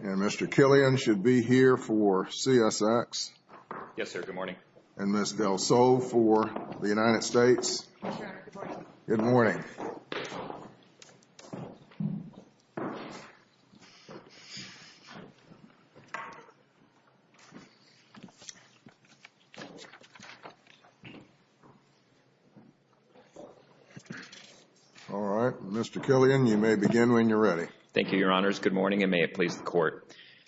and Mr. Killian should be here for CSX and Ms. Del Sol for the United States. Mr. Killian, you may begin when you're ready. Thank you, Your Honors. Good morning and may it please the Court.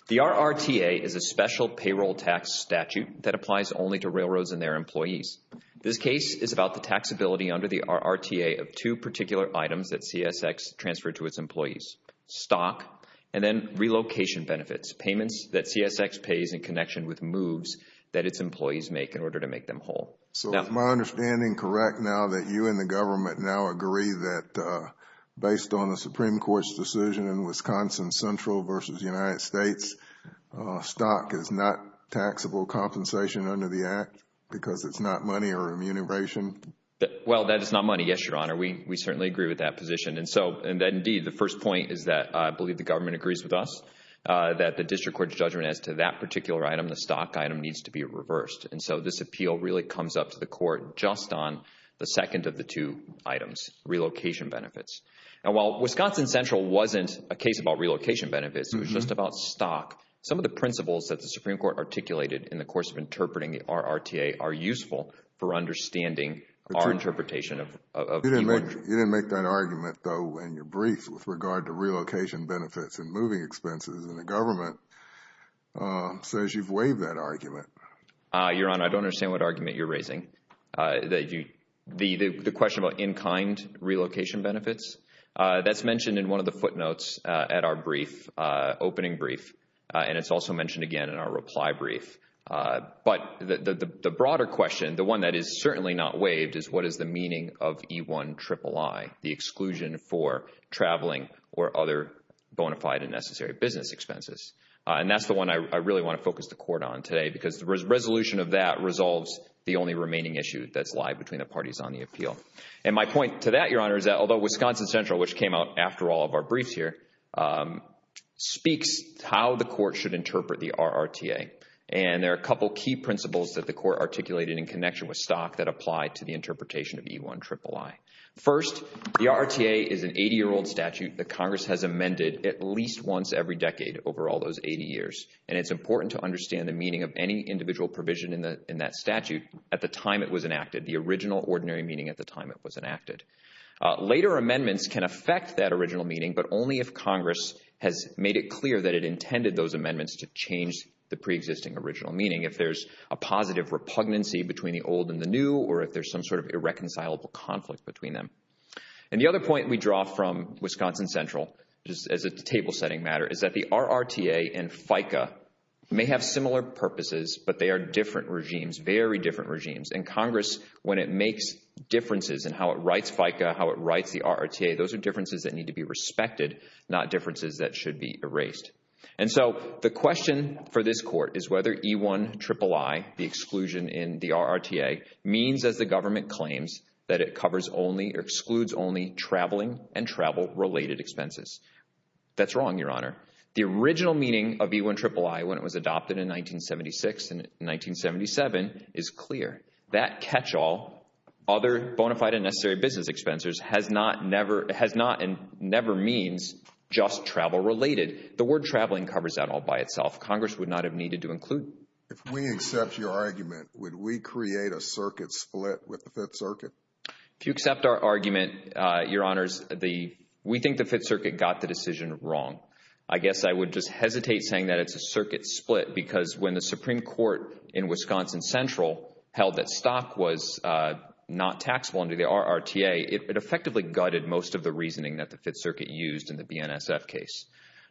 The RRTA is a special payroll tax statute that applies only to railroads and their employees. This case is about the taxability under the RRTA of two particular items that CSX transferred to its employees, stock and then relocation benefits, payments that CSX pays in connection with moves that its employees make in order to make them whole. So is my understanding correct now that you and the government now agree that based on the Supreme Court's decision in Wisconsin Central v. United States, stock is not taxable compensation under the Act because it's not money or remuneration? Well, that is not money, yes, Your Honor. We certainly agree with that position. And so, indeed, the first point is that I believe the government agrees with us that the district court's judgment as to that particular item, the stock item, needs to be reversed. And so this appeal really comes up to the Court just on the second of the two items, relocation benefits. And while Wisconsin Central wasn't a case about relocation benefits, it was just about Some of the principles that the Supreme Court articulated in the course of interpreting the RRTA are useful for understanding our interpretation of the motion. You didn't make that argument, though, in your brief with regard to relocation benefits and moving expenses, and the government says you've waived that argument. Your Honor, I don't understand what argument you're raising. The question about in-kind relocation benefits, that's mentioned in one of the footnotes at our brief, opening brief, and it's also mentioned again in our reply brief. But the broader question, the one that is certainly not waived, is what is the meaning of E-1-triple-I, the exclusion for traveling or other bona fide and necessary business expenses? And that's the one I really want to focus the Court on today, because the resolution of that resolves the only remaining issue that's live between the parties on the appeal. And my point to that, Your Honor, is that although Wisconsin Central, which came out after all of our briefs here, speaks how the Court should interpret the RRTA. And there are a couple key principles that the Court articulated in connection with Stock that apply to the interpretation of E-1-triple-I. First, the RRTA is an 80-year-old statute that Congress has amended at least once every decade over all those 80 years, and it's important to understand the meaning of any individual provision in that statute at the time it was enacted, the original ordinary meaning at the time it was enacted. Later amendments can affect that original meaning, but only if Congress has made it clear that it intended those amendments to change the preexisting original meaning, if there's a positive repugnancy between the old and the new, or if there's some sort of irreconcilable conflict between them. And the other point we draw from Wisconsin Central, just as a table-setting matter, is that the RRTA and FICA may have similar purposes, but they are different regimes, very different regimes. And Congress, when it makes differences in how it writes FICA, how it writes the RRTA, those are differences that need to be respected, not differences that should be erased. And so the question for this Court is whether E-1-triple-I, the exclusion in the RRTA, means as the government claims that it covers only or excludes only traveling and travel-related expenses. That's wrong, Your Honor. The original meaning of E-1-triple-I, when it was adopted in 1976 and 1977, is clear. That catch-all, other bona fide and necessary business expenses, has not and never means just travel-related. The word traveling covers that all by itself. Congress would not have needed to include it. If we accept your argument, would we create a circuit split with the Fifth Circuit? If you accept our argument, Your Honors, we think the Fifth Circuit got the decision wrong. I guess I would just hesitate saying that it's a circuit split because when the Supreme Court in Wisconsin Central held that stock was not taxable under the RRTA, it effectively gutted most of the reasoning that the Fifth Circuit used in the BNSF case.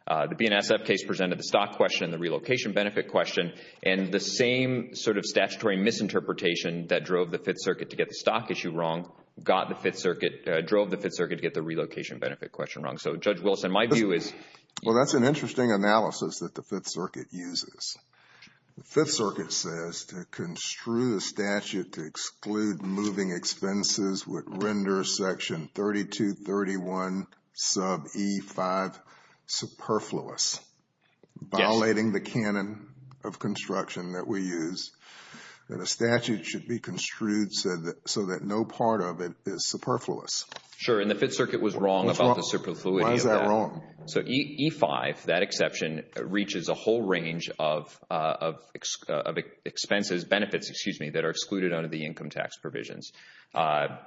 The BNSF case presented the stock question, the relocation benefit question, and the same sort of statutory misinterpretation that drove the Fifth Circuit to get the stock issue wrong got the Fifth Circuit, drove the Fifth Circuit to get the relocation benefit question wrong. So, Judge Wilson, my view is... Well, that's an interesting analysis that the Fifth Circuit uses. The Fifth Circuit says to construe the statute to exclude moving expenses would render Section 3231 sub E5 superfluous, violating the canon of construction that we use, that a statute should be construed so that no part of it is superfluous. Sure, and the Fifth Circuit was wrong about the superfluity of that. Why is that wrong? So E5, that exception, reaches a whole range of expenses, benefits, excuse me, that are excluded under the income tax provisions. A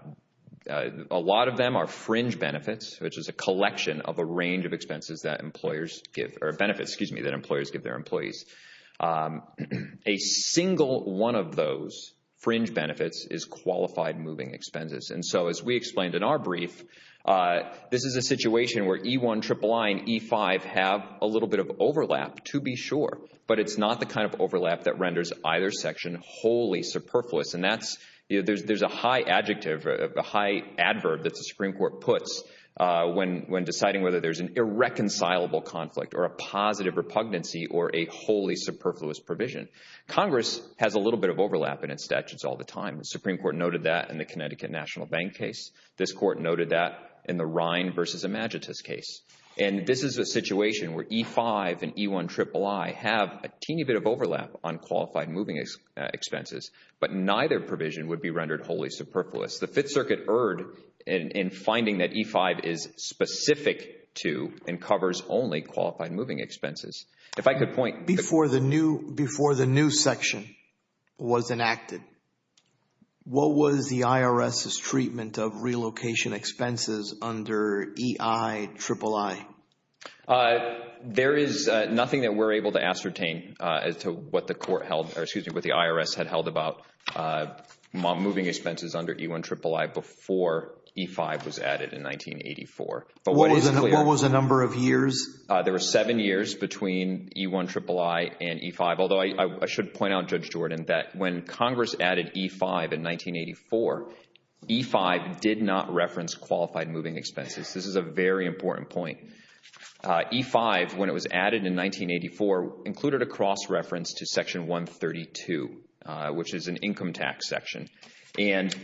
lot of them are fringe benefits, which is a collection of a range of expenses that employers give, or benefits, excuse me, that employers give their employees. A single one of those fringe benefits is qualified moving expenses. And so, as we explained in our brief, this is a situation where E1, III, and E5 have a little bit of overlap, to be sure, but it's not the kind of overlap that renders either section wholly superfluous. And that's, there's a high adjective, a high adverb that the Supreme Court puts when deciding whether there's an irreconcilable conflict, or a positive repugnancy, or a wholly superfluous provision. Congress has a little bit of overlap in its statutes all the time. The Supreme Court noted that in the Connecticut National Bank case. This court noted that in the Rhine v. Imagitus case. And this is a situation where E5 and E1, III have a teeny bit of overlap on qualified moving expenses, but neither provision would be rendered wholly superfluous. The Fifth Circuit erred in finding that E5 is specific to, and covers only, qualified moving expenses. If I could point- Before the new, before the new section was enacted, what was the IRS's treatment of relocation expenses under EI, III? There is nothing that we're able to ascertain as to what the court held, or excuse me, what the IRS had held about moving expenses under E1, III before E5 was added in 1984. But what is- What was the number of years? There were seven years between E1, III, and E5, although I should point out, Judge Jordan, that when Congress added E5 in 1984, E5 did not reference qualified moving expenses. This is a very important point. E5, when it was added in 1984, included a cross-reference to Section 132, which is an income tax section. And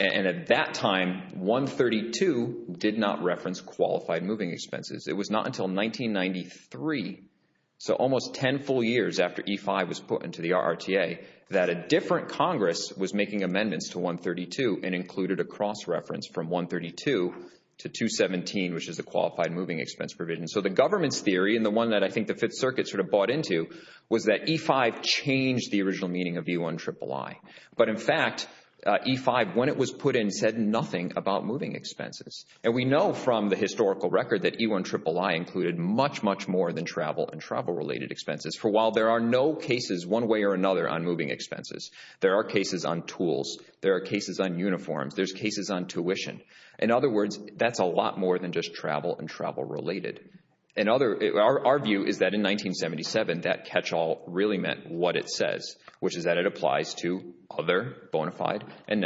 at that time, 132 did not reference qualified moving expenses. It was not until 1993, so almost 10 full years after E5 was put into the RRTA, that a different Congress was making amendments to 132 and included a cross-reference from 132 to 217, which is a qualified moving expense provision. So the government's theory, and the one that I think the Fifth Circuit sort of bought into, was that E5 changed the original meaning of E1, III. But in fact, E5, when it was put in, said nothing about moving expenses. And we know from the historical record that E1, III included much, much more than travel and travel-related expenses. For a while, there are no cases one way or another on moving expenses. There are cases on tools. There are cases on uniforms. There's cases on tuition. In other words, that's a lot more than just travel and travel-related. Our view is that in 1977, that catch-all really meant what it says, which is that it applies to other bona fide and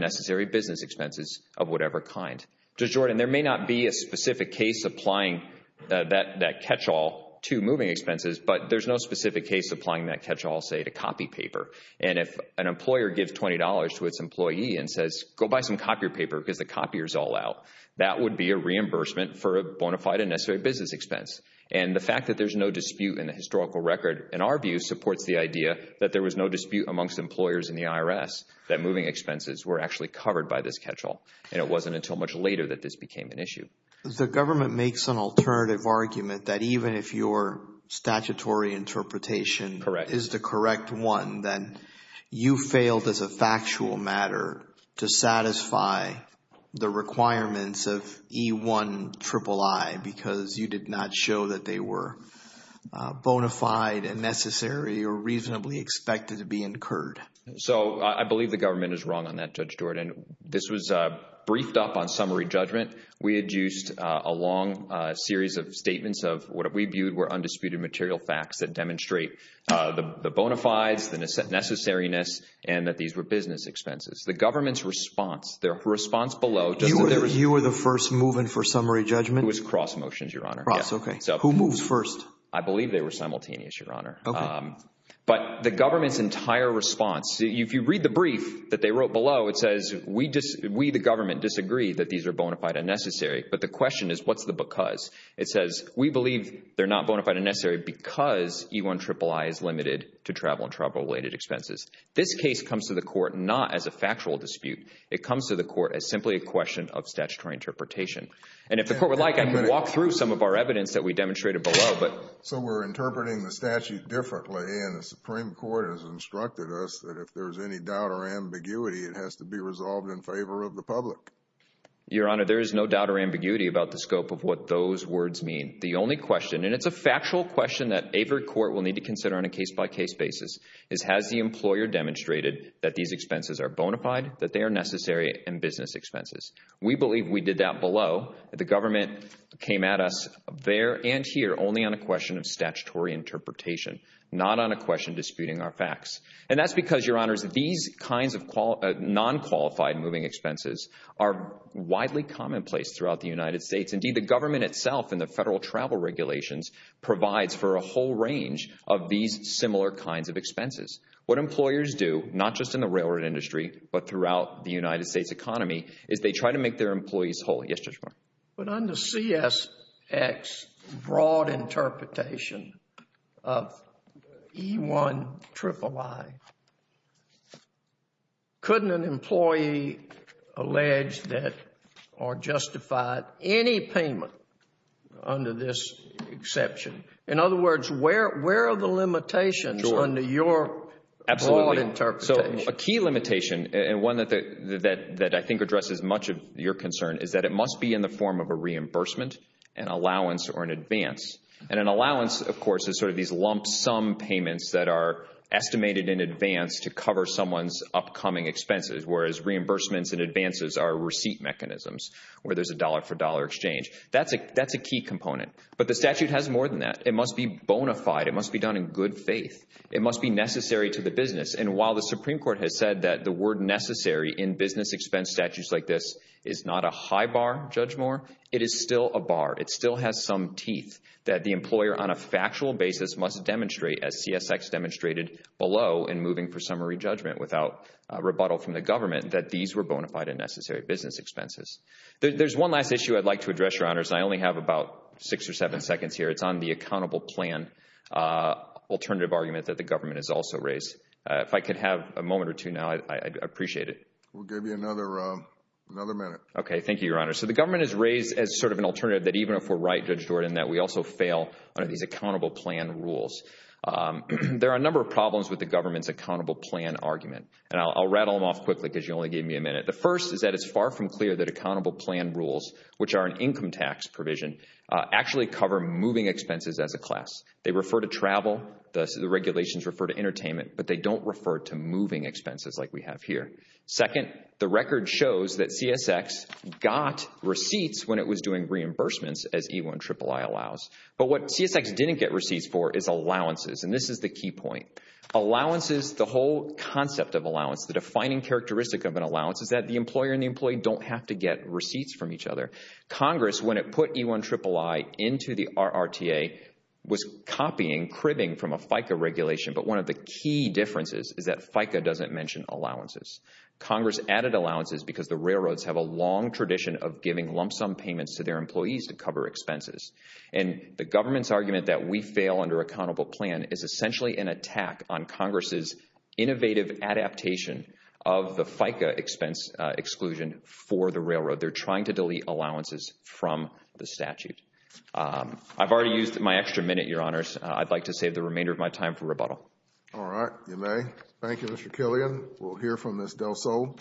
necessary business expenses of whatever kind. Judge Jordan, there may not be a specific case applying that catch-all to moving expenses, but there's no specific case applying that catch-all, say, to copy paper. And if an employer gives $20 to its employee and says, go buy some copier paper because the copier's all out, that would be a reimbursement for a bona fide and necessary business expense. And the fact that there's no dispute in the historical record, in our view, supports the dispute amongst employers in the IRS that moving expenses were actually covered by this catch-all. And it wasn't until much later that this became an issue. The government makes an alternative argument that even if your statutory interpretation is the correct one, then you failed as a factual matter to satisfy the requirements of E-1-iii because you did not show that they were bona fide and necessary or reasonably expected to be incurred. So, I believe the government is wrong on that, Judge Jordan. This was briefed up on summary judgment. We had used a long series of statements of what we viewed were undisputed material facts that demonstrate the bona fides, the necessariness, and that these were business expenses. The government's response, their response below, just as there was... You were the first move-in for summary judgment? It was cross motions, Your Honor. Cross, okay. Who moves first? I believe they were simultaneous, Your Honor. Okay. But the government's entire response, if you read the brief that they wrote below, it says, we the government disagree that these are bona fide and necessary. But the question is, what's the because? It says, we believe they're not bona fide and necessary because E-1-iii is limited to travel and travel-related expenses. This case comes to the court not as a factual dispute. It comes to the court as simply a question of statutory interpretation. And if the court would like, I can walk through some of our evidence that we demonstrated below, but... So we're interpreting the statute differently, and the Supreme Court has instructed us that if there's any doubt or ambiguity, it has to be resolved in favor of the public. Your Honor, there is no doubt or ambiguity about the scope of what those words mean. The only question, and it's a factual question that every court will need to consider on a case-by-case basis, is has the employer demonstrated that these expenses are bona fide, that they are necessary, and business expenses? We believe we did that below. The government came at us there and here only on a question of statutory interpretation, not on a question disputing our facts. And that's because, Your Honors, these kinds of non-qualified moving expenses are widely commonplace throughout the United States. Indeed, the government itself and the federal travel regulations provides for a whole range of these similar kinds of expenses. What employers do, not just in the railroad industry, but throughout the United States economy, is they try to make their employees whole. But under CSX broad interpretation of E-1 III, couldn't an employee allege that or justify any payment under this exception? In other words, where are the limitations under your broad interpretation? So a key limitation, and one that I think addresses much of your concern, is that it must be in the form of a reimbursement, an allowance, or an advance. And an allowance, of course, is sort of these lump-sum payments that are estimated in advance to cover someone's upcoming expenses, whereas reimbursements and advances are receipt mechanisms, where there's a dollar-for-dollar exchange. That's a key component. But the statute has more than that. It must be bona fide. It must be done in good faith. It must be necessary to the business. And while the Supreme Court has said that the word necessary in business expense statutes like this is not a high bar, Judge Moore, it is still a bar. It still has some teeth that the employer, on a factual basis, must demonstrate, as CSX demonstrated below in moving for summary judgment without rebuttal from the government, that these were bona fide and necessary business expenses. There's one last issue I'd like to address, Your Honors, and I only have about six or seven seconds here. It's on the accountable plan alternative argument that the government has also raised. If I could have a moment or two now, I'd appreciate it. We'll give you another minute. Okay. Thank you, Your Honor. So the government has raised as sort of an alternative that even if we're right, Judge Jordan, that we also fail under these accountable plan rules. There are a number of problems with the government's accountable plan argument, and I'll rattle them off quickly because you only gave me a minute. The first is that it's far from clear that accountable plan rules, which are an income tax provision, actually cover moving expenses as a class. They refer to travel, the regulations refer to entertainment, but they don't refer to moving expenses like we have here. Second, the record shows that CSX got receipts when it was doing reimbursements, as E-1-triple-I allows. But what CSX didn't get receipts for is allowances, and this is the key point. Allowances, the whole concept of allowance, the defining characteristic of an allowance is that the employer and the employee don't have to get receipts from each other. Congress, when it put E-1-triple-I into the RRTA, was copying, cribbing from a FICA regulation. But one of the key differences is that FICA doesn't mention allowances. Congress added allowances because the railroads have a long tradition of giving lump sum payments to their employees to cover expenses. And the government's argument that we fail under accountable plan is essentially an attack on Congress's innovative adaptation of the FICA expense exclusion for the railroad. They're trying to delete allowances from the statute. I've already used my extra minute, Your Honors. I'd like to save the remainder of my time for rebuttal. All right. You may. Thank you, Mr. Killian. We'll hear from Ms. DelSol.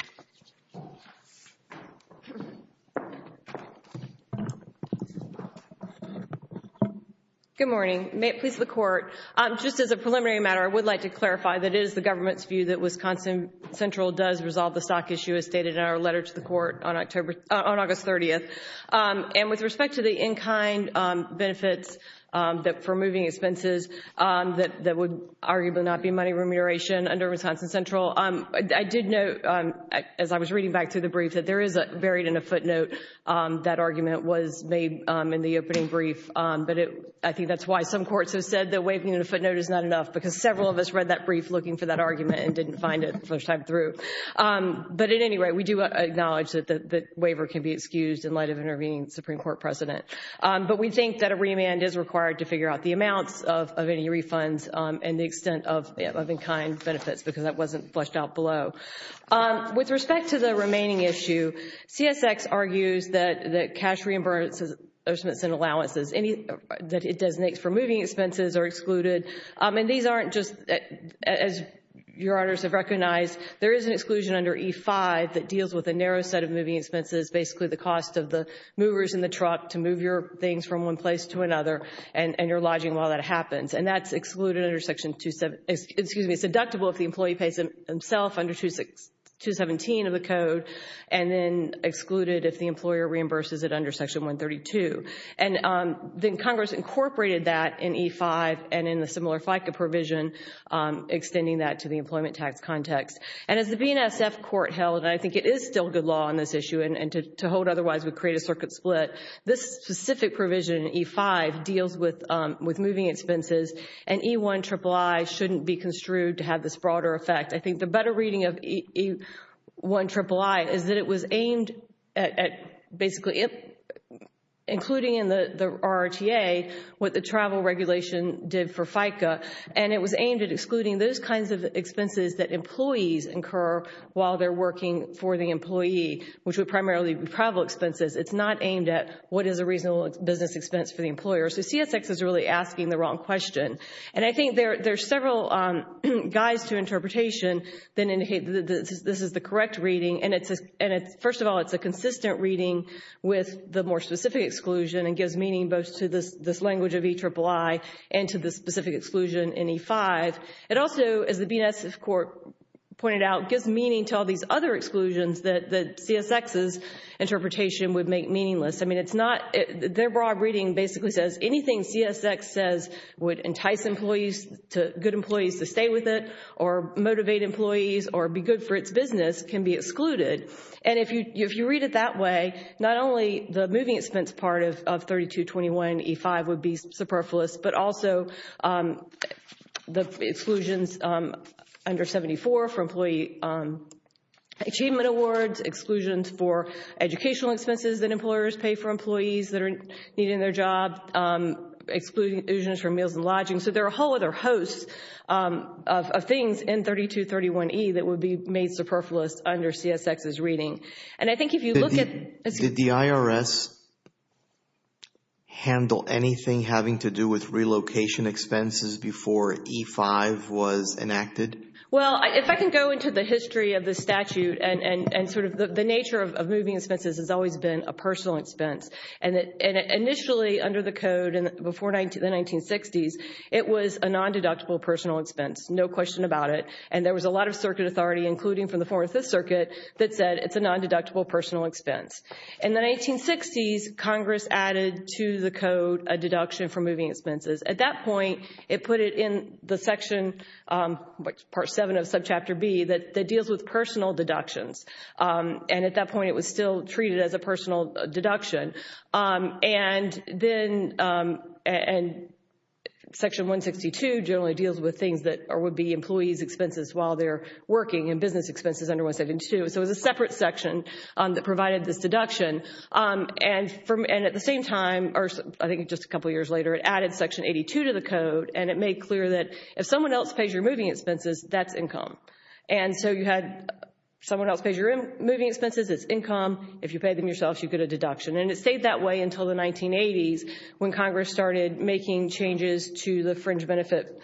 Good morning. May it please the Court. Just as a preliminary matter, I would like to clarify that it is the government's view that Wisconsin Central does resolve the stock issue as stated in our letter to the Court on August 30th. And with respect to the in-kind benefits for moving expenses that would arguably not be money remuneration under Wisconsin Central, I did note, as I was reading back through the brief, that there is buried in a footnote that argument was made in the opening brief. But I think that's why some courts have said that waving in a footnote is not enough because several of us read that brief looking for that argument and didn't find it the first time through. But at any rate, we do acknowledge that the waiver can be excused in light of intervening Supreme Court precedent. But we think that a remand is required to figure out the amounts of any refunds and the extent of in-kind benefits because that wasn't fleshed out below. With respect to the remaining issue, CSX argues that cash reimbursements and allowances that it designates for moving expenses are excluded. And these aren't just, as Your Honors have recognized, there is an exclusion under E-5 that deals with a narrow set of moving expenses, basically the cost of the movers in the truck to move your things from one place to another and your lodging while that happens. And that's excluded under Section 27... excuse me, it's deductible if the employee pays himself under Section 217 of the Code and then excluded if the employer reimburses it under Section 132. And then Congress incorporated that in E-5 and in the similar FICA provision, extending that to the employment tax context. And as the BNSF Court held, and I think it is still good law on this issue and to hold otherwise would create a circuit split, this specific provision in E-5 deals with moving expenses and E-1 triple I shouldn't be construed to have this broader effect. I think the better reading of E-1 triple I is that it was aimed at basically including in the RRTA what the travel regulation did for FICA. And it was aimed at excluding those kinds of expenses that employees incur while they're working for the employee, which would primarily be travel expenses. It's not aimed at what is a reasonable business expense for the employer. So CSX is really asking the wrong question. And I think there are several guides to interpretation that indicate that this is the correct reading. And first of all, it's a consistent reading with the more specific exclusion and gives meaning both to this language of E-triple I and to the specific exclusion in E-5. It also, as the BNSF Court pointed out, gives meaning to all these other exclusions that CSX's interpretation would make meaningless. I mean, it's not, their broad reading basically says anything CSX says would entice employees, good employees to stay with it or motivate employees or be good for its business can be excluded. And if you read it that way, not only the moving expense part of 3221 E-5 would be superfluous, but also the exclusions under 74 for employee achievement awards, exclusions for educational expenses that employers pay for employees that are needing their job, exclusions for meals and lodging. So there are a whole other host of things in 3231 E that would be made superfluous under CSX's reading. And I think if you look at- Did the IRS handle anything having to do with relocation expenses before E-5 was enacted? Well, if I can go into the history of the statute and sort of the nature of moving expenses has always been a personal expense. And initially under the code before the 1960s, it was a non-deductible personal expense, no question about it. And there was a lot of circuit authority, including from the Fourth Circuit, that said it's a non-deductible personal expense. In the 1960s, Congress added to the code a deduction for moving expenses. At that point, it put it in the section, Part 7 of Subchapter B, that deals with personal deductions. And at that point, it was still treated as a personal deduction. And then Section 162 generally deals with things that would be employees' expenses while they're working and business expenses under 172. So it was a separate section that provided this deduction. And at the same time, or I think just a couple years later, it added Section 82 to the code and it made clear that if someone else pays your moving expenses, that's income. And so you had someone else pays your moving expenses, it's income. If you pay them yourself, you get a deduction. And it stayed that way until the 1980s when Congress started making changes to the fringe benefit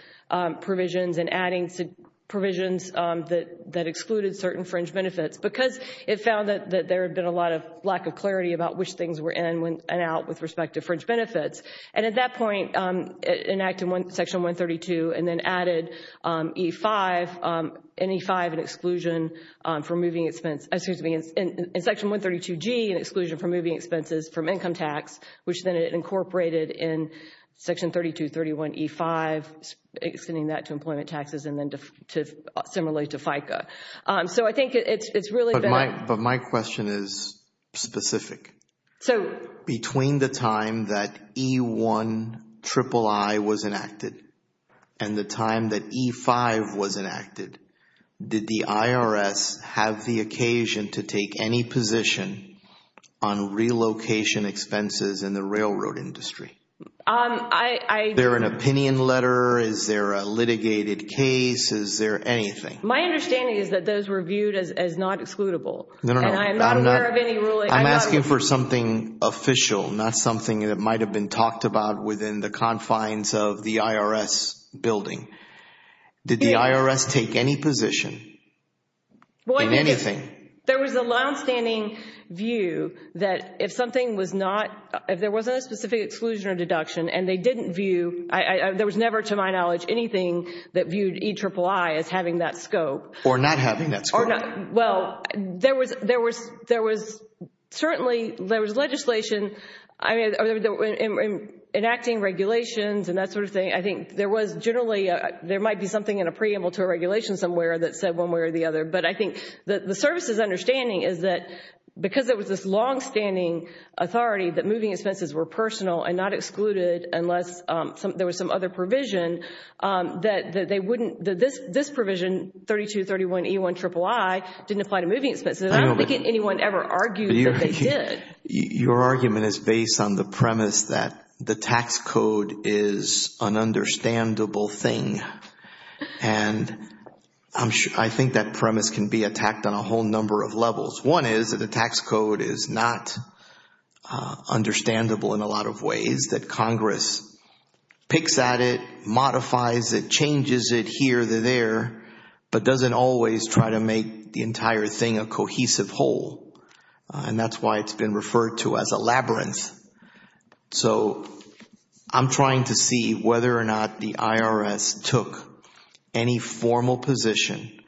provisions and adding provisions that excluded certain fringe benefits because it found that there had been a lot of lack of clarity about which things were in and out with respect to fringe benefits. And at that point, it enacted Section 132 and then added in Section 132G, an exclusion for moving expenses from income tax, which then it incorporated in Section 3231E5, extending that to employment taxes and then similarly to FICA. So I think it's really bad. But my question is specific. So between the time that E1 III was enacted and the time that E5 was enacted, did the IRS have the occasion to take any position on relocation expenses in the railroad industry? Is there an opinion letter? Is there a litigated case? Is there anything? My understanding is that those were viewed as not excludable. No, no, no. And I'm not aware of any ruling. I'm asking for something official, not something that might have been talked about within the confines of the IRS building. Did the IRS take any position in anything? There was a longstanding view that if something was not, if there wasn't a specific exclusion or deduction and they didn't view, there was never to my knowledge anything that viewed E III as having that scope. Or not having that scope. Well, there was certainly, there was legislation, I mean, in acting regulations and that sort of thing. I think there was generally, there might be something in a preamble to a regulation somewhere that said one way or the other. But I think the service's understanding is that because there was this longstanding authority that moving expenses were personal and not excluded unless there was some other provision that they wouldn't, this provision 3231 E III didn't apply to moving expenses. I don't think anyone ever argued that they did. Your argument is based on the premise that the tax code is an understandable thing. And I think that premise can be attacked on a whole number of levels. One is that the tax code is not understandable in a lot of ways. The other is that Congress picks at it, modifies it, changes it here or there, but doesn't always try to make the entire thing a cohesive whole. And that's why it's been referred to as a labyrinth. So I'm trying to see whether or not the IRS took any formal position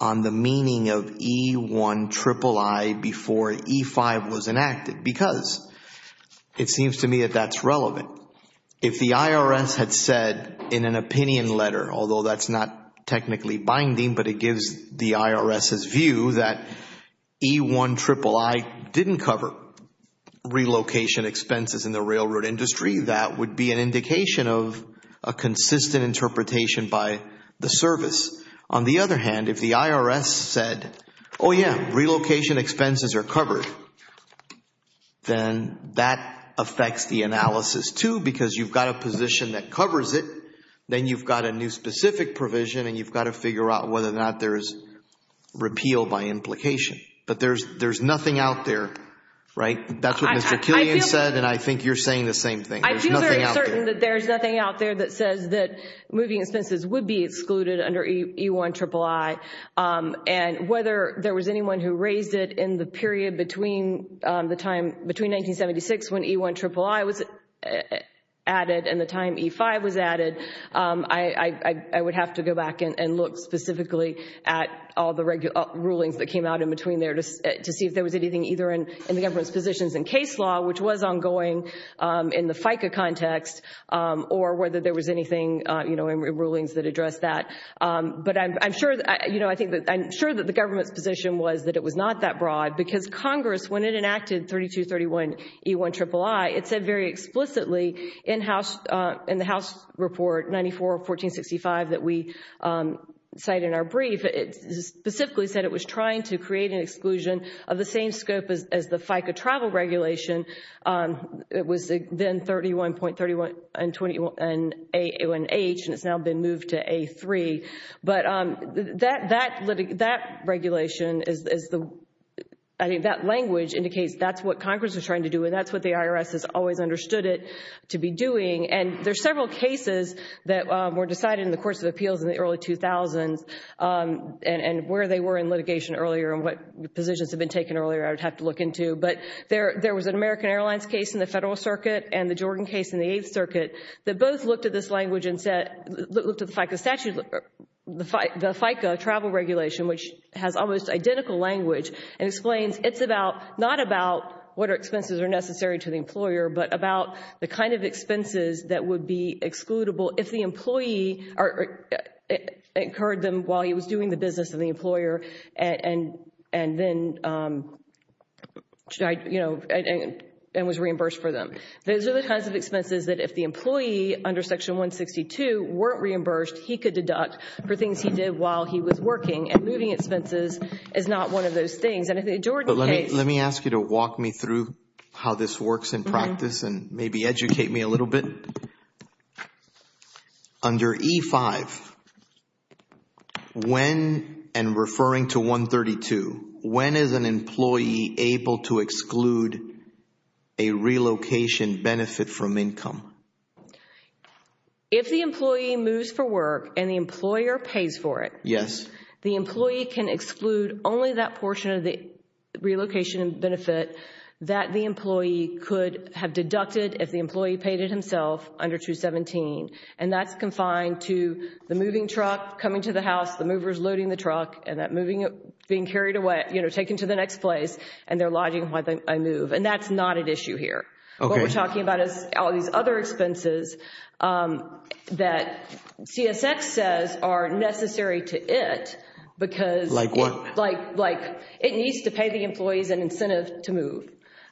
on the meaning of E IIII before E V was enacted. Because it seems to me that that's relevant. If the IRS had said in an opinion letter, although that's not technically binding, but it gives the IRS's view that E IIII didn't cover relocation expenses in the railroad industry, that would be an indication of a consistent interpretation by the service. On the other hand, if the IRS said, oh yeah, relocation expenses are covered, then that affects the analysis too because you've got a position that covers it, then you've got a new specific provision and you've got to figure out whether or not there is repeal by implication. But there's nothing out there, right? That's what Mr. Killian said and I think you're saying the same thing. There's nothing out there. I feel very certain that there's nothing out there that says that moving expenses would be excluded under E IIII and whether there was anyone who raised it in the period between 1976 when E IIII was added and the time E V was added, I would have to go back and look specifically at all the rulings that came out in between there to see if there was anything either in the government's positions in case law, which was ongoing in the FICA context, or whether there was anything in rulings that addressed that. But I'm sure that the government's position was that it was not that broad because Congress, when it enacted 3231 E IIII, it said very explicitly in the House Report 94-1465 that we cite in our brief, it specifically said it was trying to create an exclusion of the same scope as the FICA travel regulation. It was then 31.31 A1H and it's now been moved to A3. But that regulation, I think that language indicates that's what Congress was trying to do and that's what the IRS has always understood it to be doing. And there are several cases that were decided in the courts of appeals in the early 2000s and where they were in litigation earlier and what positions have been taken earlier, I would have to look into. But there was an American Airlines case in the Federal Circuit and the Jordan case in the Eighth Circuit that both looked at this language and said, looked at the FICA statute, the FICA travel regulation, which has almost identical language and explains it's about, not about what expenses are necessary to the employer, but about the kind of expenses that would be excludable if the employee incurred them while he was doing the business of the and was reimbursed for them. Those are the kinds of expenses that if the employee under Section 162 weren't reimbursed, he could deduct for things he did while he was working and moving expenses is not one of those things. And if the Jordan case Let me ask you to walk me through how this works in practice and maybe educate me a little bit. Under E-5, when, and referring to 132, when is an employee able to exclude a relocation benefit from income? If the employee moves for work and the employer pays for it, the employee can exclude only that portion of the relocation benefit that the employee could have deducted if the employee paid it himself under 217. And that's confined to the moving truck coming to the house, the movers loading the truck and that moving, being carried away, you know, taken to the next place and they're lodging while they move. And that's not an issue here. What we're talking about is all these other expenses that CSX says are necessary to it because it needs to pay the employees an incentive to move.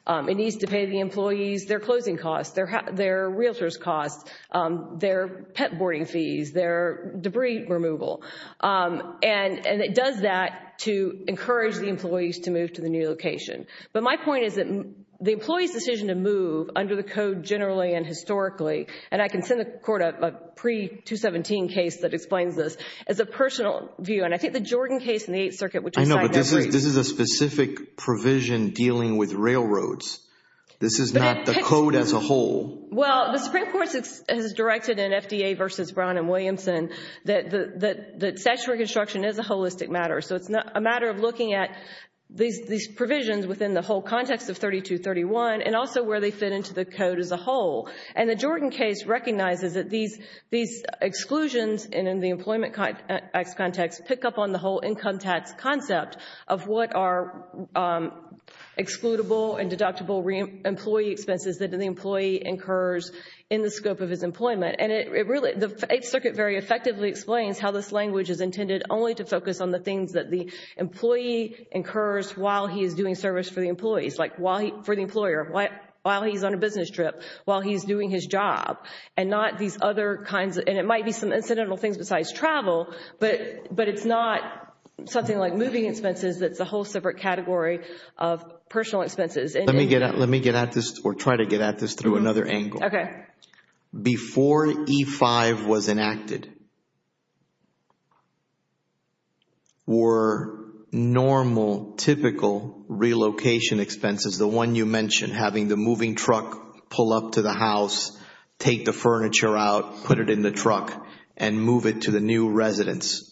It needs to pay the employees their closing costs, their realtors' costs, their pet boarding fees, their debris removal. And it does that to encourage the employees to move to the new location. But my point is that the employee's decision to move under the code generally and historically, and I can send the court a pre-217 case that explains this, is a personal view. And I think the Jordan case in the Eighth Circuit, which I cited that briefly This is a specific provision dealing with railroads. This is not the code as a whole. Well, the Supreme Court has directed in FDA v. Brown and Williamson that statutory construction is a holistic matter. So it's a matter of looking at these provisions within the whole context of 3231 and also where they fit into the code as a whole. And the Jordan case recognizes that these exclusions and in the Employment Act context pick up on the whole income tax concept of what are excludable and deductible employee expenses that the employee incurs in the scope of his employment. And it really, the Eighth Circuit very effectively explains how this language is intended only to focus on the things that the employee incurs while he is doing service for the employees, like for the employer, while he's on a business trip, while he's doing his job, and not these It's not something like moving expenses, that's a whole separate category of personal expenses. Let me get at this or try to get at this through another angle. Before E-5 was enacted, were normal, typical relocation expenses, the one you mentioned, having the moving truck pull up to the house, take the furniture out, put it in the truck and move it to the new residence,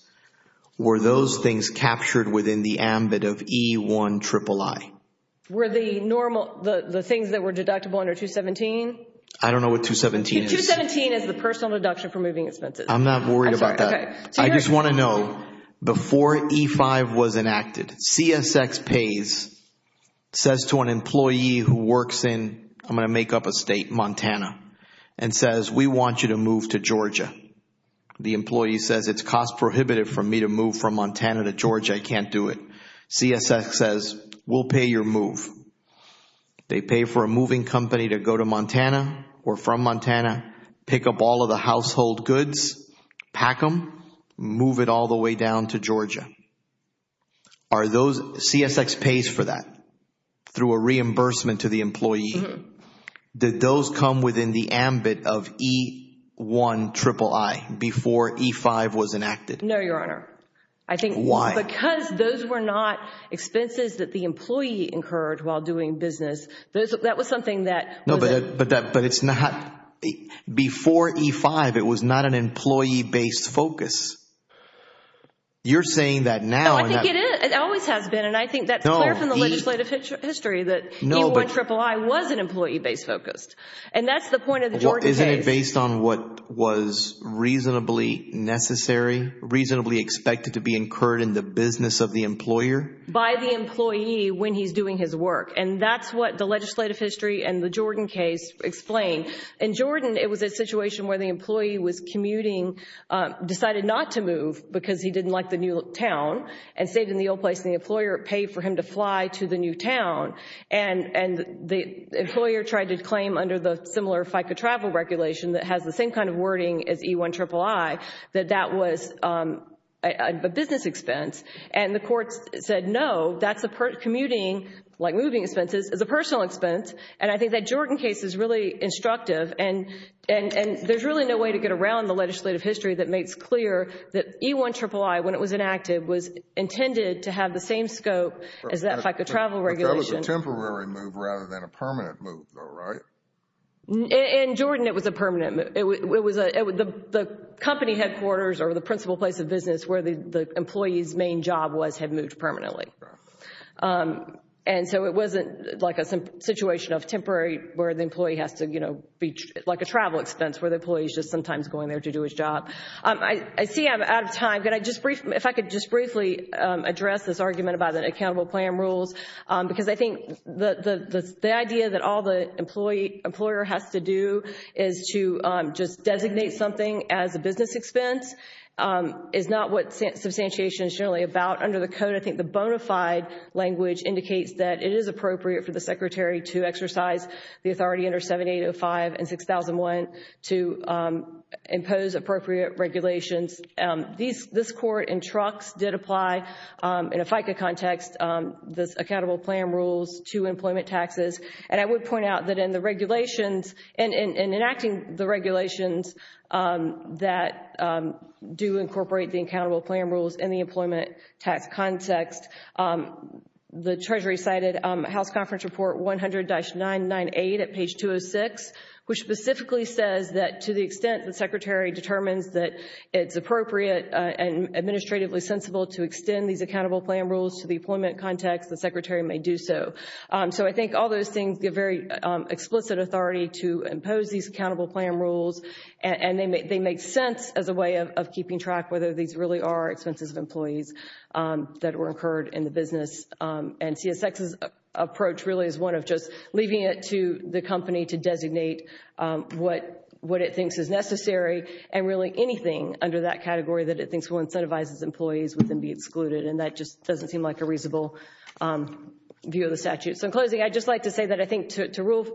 were those things captured within the ambit of E-1-triple-I? Were the normal, the things that were deductible under 217? I don't know what 217 is. 217 is the personal deduction for moving expenses. I'm not worried about that. I just want to know, before E-5 was enacted, CSX pays, says to an employee who works in, I'm going to make up a state, Montana, and says, we want you to move to Georgia. The employee says, it's cost prohibitive for me to move from Montana to Georgia, I can't do it. CSX says, we'll pay your move. They pay for a moving company to go to Montana or from Montana, pick up all of the household goods, pack them, move it all the way down to Georgia. Are those, CSX pays for that through a reimbursement to the employee. Did those come within the ambit of E-1-triple-I before E-5 was enacted? No, Your Honor. I think, because those were not expenses that the employee incurred while doing business, that was something that, No, but it's not, before E-5, it was not an employee-based focus. You're saying that now, No, I think it is. It always has been, and I think that's clear from the legislative history that E-1-triple-I was an employee-based focus. And that's the point of the Jordan case. Well, isn't it based on what was reasonably necessary, reasonably expected to be incurred in the business of the employer? By the employee when he's doing his work. And that's what the legislative history and the Jordan case explain. In Jordan, it was a situation where the employee was commuting, decided not to move because he didn't like the new town, and stayed in the old place, and the employer paid for him to fly to the new town. And the employer tried to claim under the similar FICA travel regulation that has the same kind of wording as E-1-triple-I, that that was a business expense. And the court said, no, that's a commuting, like moving expenses, is a personal expense. And I think that Jordan case is really instructive, and there's really no way to get around the legislative history that makes clear that E-1-triple-I, when it was enacted, was intended to have the same scope as that FICA travel regulation. But that was a temporary move rather than a permanent move, though, right? In Jordan, it was a permanent move. The company headquarters or the principal place of business where the employee's main job was had moved permanently. And so it wasn't like a situation of temporary where the employee has to, you know, be like a travel expense where the employee is just sometimes going there to do his job. I see I'm out of time, but if I could just briefly address this argument about the accountable plan rules, because I think the idea that all the employer has to do is to just designate something as a business expense is not what substantiation is generally about. But under the code, I think the bona fide language indicates that it is appropriate for the secretary to exercise the authority under 7805 and 6001 to impose appropriate regulations. This court in Trucks did apply in a FICA context, this accountable plan rules to employment taxes. And I would point out that in enacting the regulations that do incorporate the accountable plan rules in the employment tax context, the Treasury cited House Conference Report 100-998 at page 206, which specifically says that to the extent the secretary determines that it's appropriate and administratively sensible to extend these accountable plan rules to the employment context, the secretary may do so. So I think all those things give very explicit authority to impose these accountable plan rules, and they make sense as a way of keeping track whether these really are expenses of employees that were incurred in the business. And CSX's approach really is one of just leaving it to the company to designate what it thinks is necessary, and really anything under that category that it thinks will incentivize its employees would then be excluded. And that just doesn't seem like a reasonable view of the statute. So in closing, I'd just like to say that I think to rule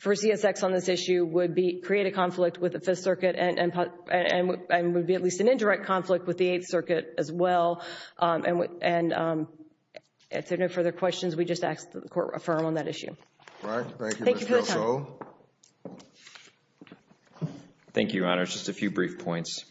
for CSX on this issue would be create a conflict with the Fifth Circuit and would be at least an indirect conflict with the Eighth Circuit as well. And if there are no further questions, we just ask that the court affirm on that issue. Thank you for your time. Thank you, Your Honor. Just a few brief points.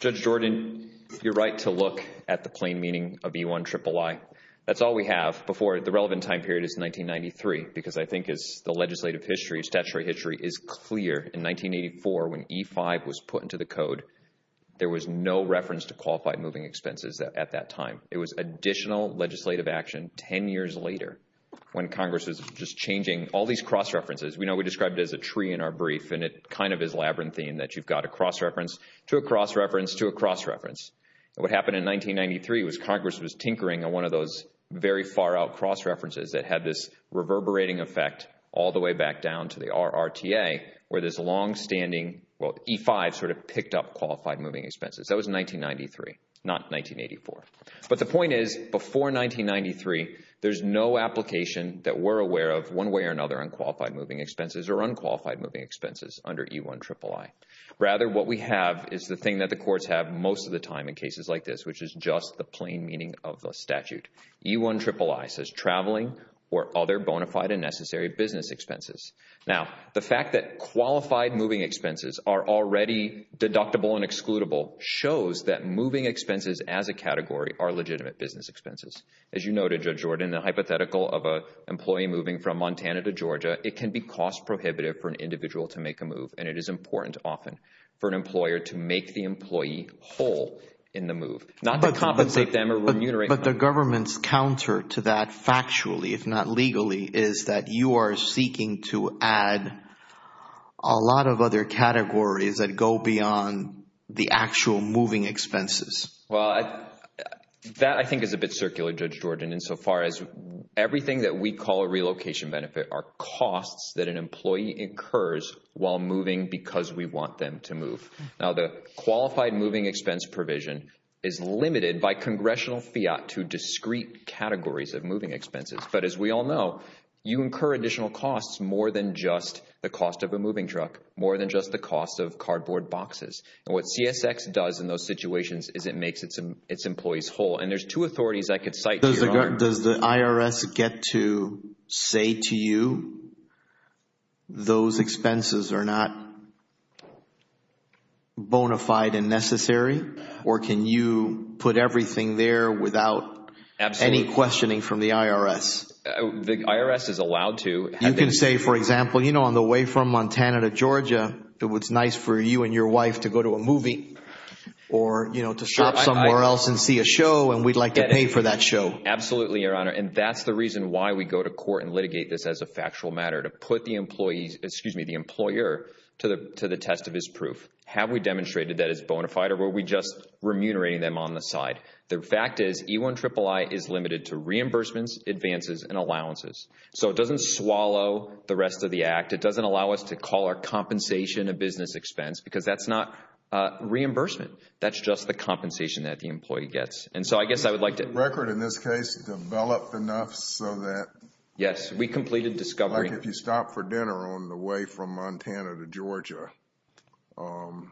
Judge Jordan, you're right to look at the plain meaning of E-1-triple-I. That's all we have before the relevant time period is 1993, because I think as the legislative history, statutory history is clear, in 1984 when E-5 was put into the code, there was no reference to qualified moving expenses at that time. It was additional legislative action 10 years later when Congress was just changing all these cross-references. We know we described it as a tree in our brief, and it kind of is labyrinthine that you've got a cross-reference to a cross-reference to a cross-reference. What happened in 1993 was Congress was tinkering on one of those very far-out cross-references that had this reverberating effect all the way back down to the RRTA, where this longstanding — well, E-5 sort of picked up qualified moving expenses. That was 1993, not 1984. But the point is, before 1993, there's no application that we're aware of one way or another on qualified moving expenses or unqualified moving expenses under E-1-triple-I. Rather, what we have is the thing that the courts have most of the time in cases like this, which is just the plain meaning of the statute. E-1-triple-I says traveling or other bona fide and necessary business expenses. Now, the fact that qualified moving expenses are already deductible and excludable shows that moving expenses as a category are legitimate business expenses. As you noted, Judge Jordan, the hypothetical of an employee moving from Montana to Georgia, it can be cost prohibitive for an individual to make a move, and it is important often for an employer to make the employee whole in the move, not to compensate them or remunerate them. But the government's counter to that factually, if not legally, is that you are seeking to add a lot of other categories that go beyond the actual moving expenses. Well, that I think is a bit circular, Judge Jordan, insofar as everything that we call relocation benefit are costs that an employee incurs while moving because we want them to move. Now, the qualified moving expense provision is limited by congressional fiat to discrete categories of moving expenses, but as we all know, you incur additional costs more than just the cost of a moving truck, more than just the cost of cardboard boxes. What CSX does in those situations is it makes its employees whole, and there's two authorities I could cite here. Does the IRS get to say to you those expenses are not bona fide and necessary, or can you put everything there without any questioning from the IRS? The IRS is allowed to. You can say, for example, on the way from Montana to Georgia, it was nice for you and your wife to go to a movie or to shop somewhere else and see a show, and we'd like to pay for that show. Absolutely, Your Honor, and that's the reason why we go to court and litigate this as a factual matter, to put the employer to the test of his proof. Have we demonstrated that it's bona fide, or were we just remunerating them on the side? The fact is, E-1-triple-I is limited to reimbursements, advances, and allowances, so it doesn't swallow the rest of the act. It doesn't allow us to call our compensation a business expense because that's not reimbursement. That's just the compensation that the employee gets, and so I guess I would like to— Has the record, in this case, developed enough so that— Yes. We completed discovery— Like, if you stop for dinner on the way from Montana to Georgia, and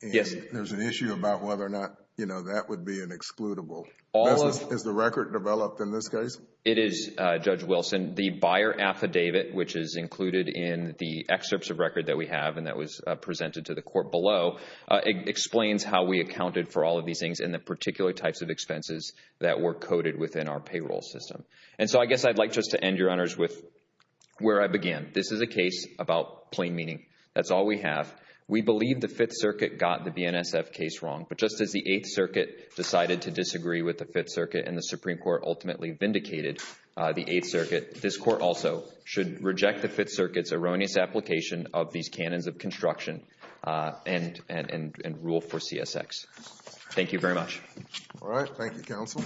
there's an issue about whether or not, you know, that would be an excludable, is the record developed in this case? It is, Judge Wilson. The buyer affidavit, which is included in the excerpts of record that we have and that was presented to the court below, explains how we accounted for all of these things and the particular types of expenses that were coded within our payroll system. And so I guess I'd like just to end, Your Honors, with where I began. This is a case about plain meaning. That's all we have. We believe the Fifth Circuit got the BNSF case wrong, but just as the Eighth Circuit decided to disagree with the Fifth Circuit and the Supreme Court ultimately vindicated the Eighth Circuit, this Court also should reject the Fifth Circuit's erroneous application of these canons of construction and rule for CSX. Thank you very much. All right. Thank you, Counsel.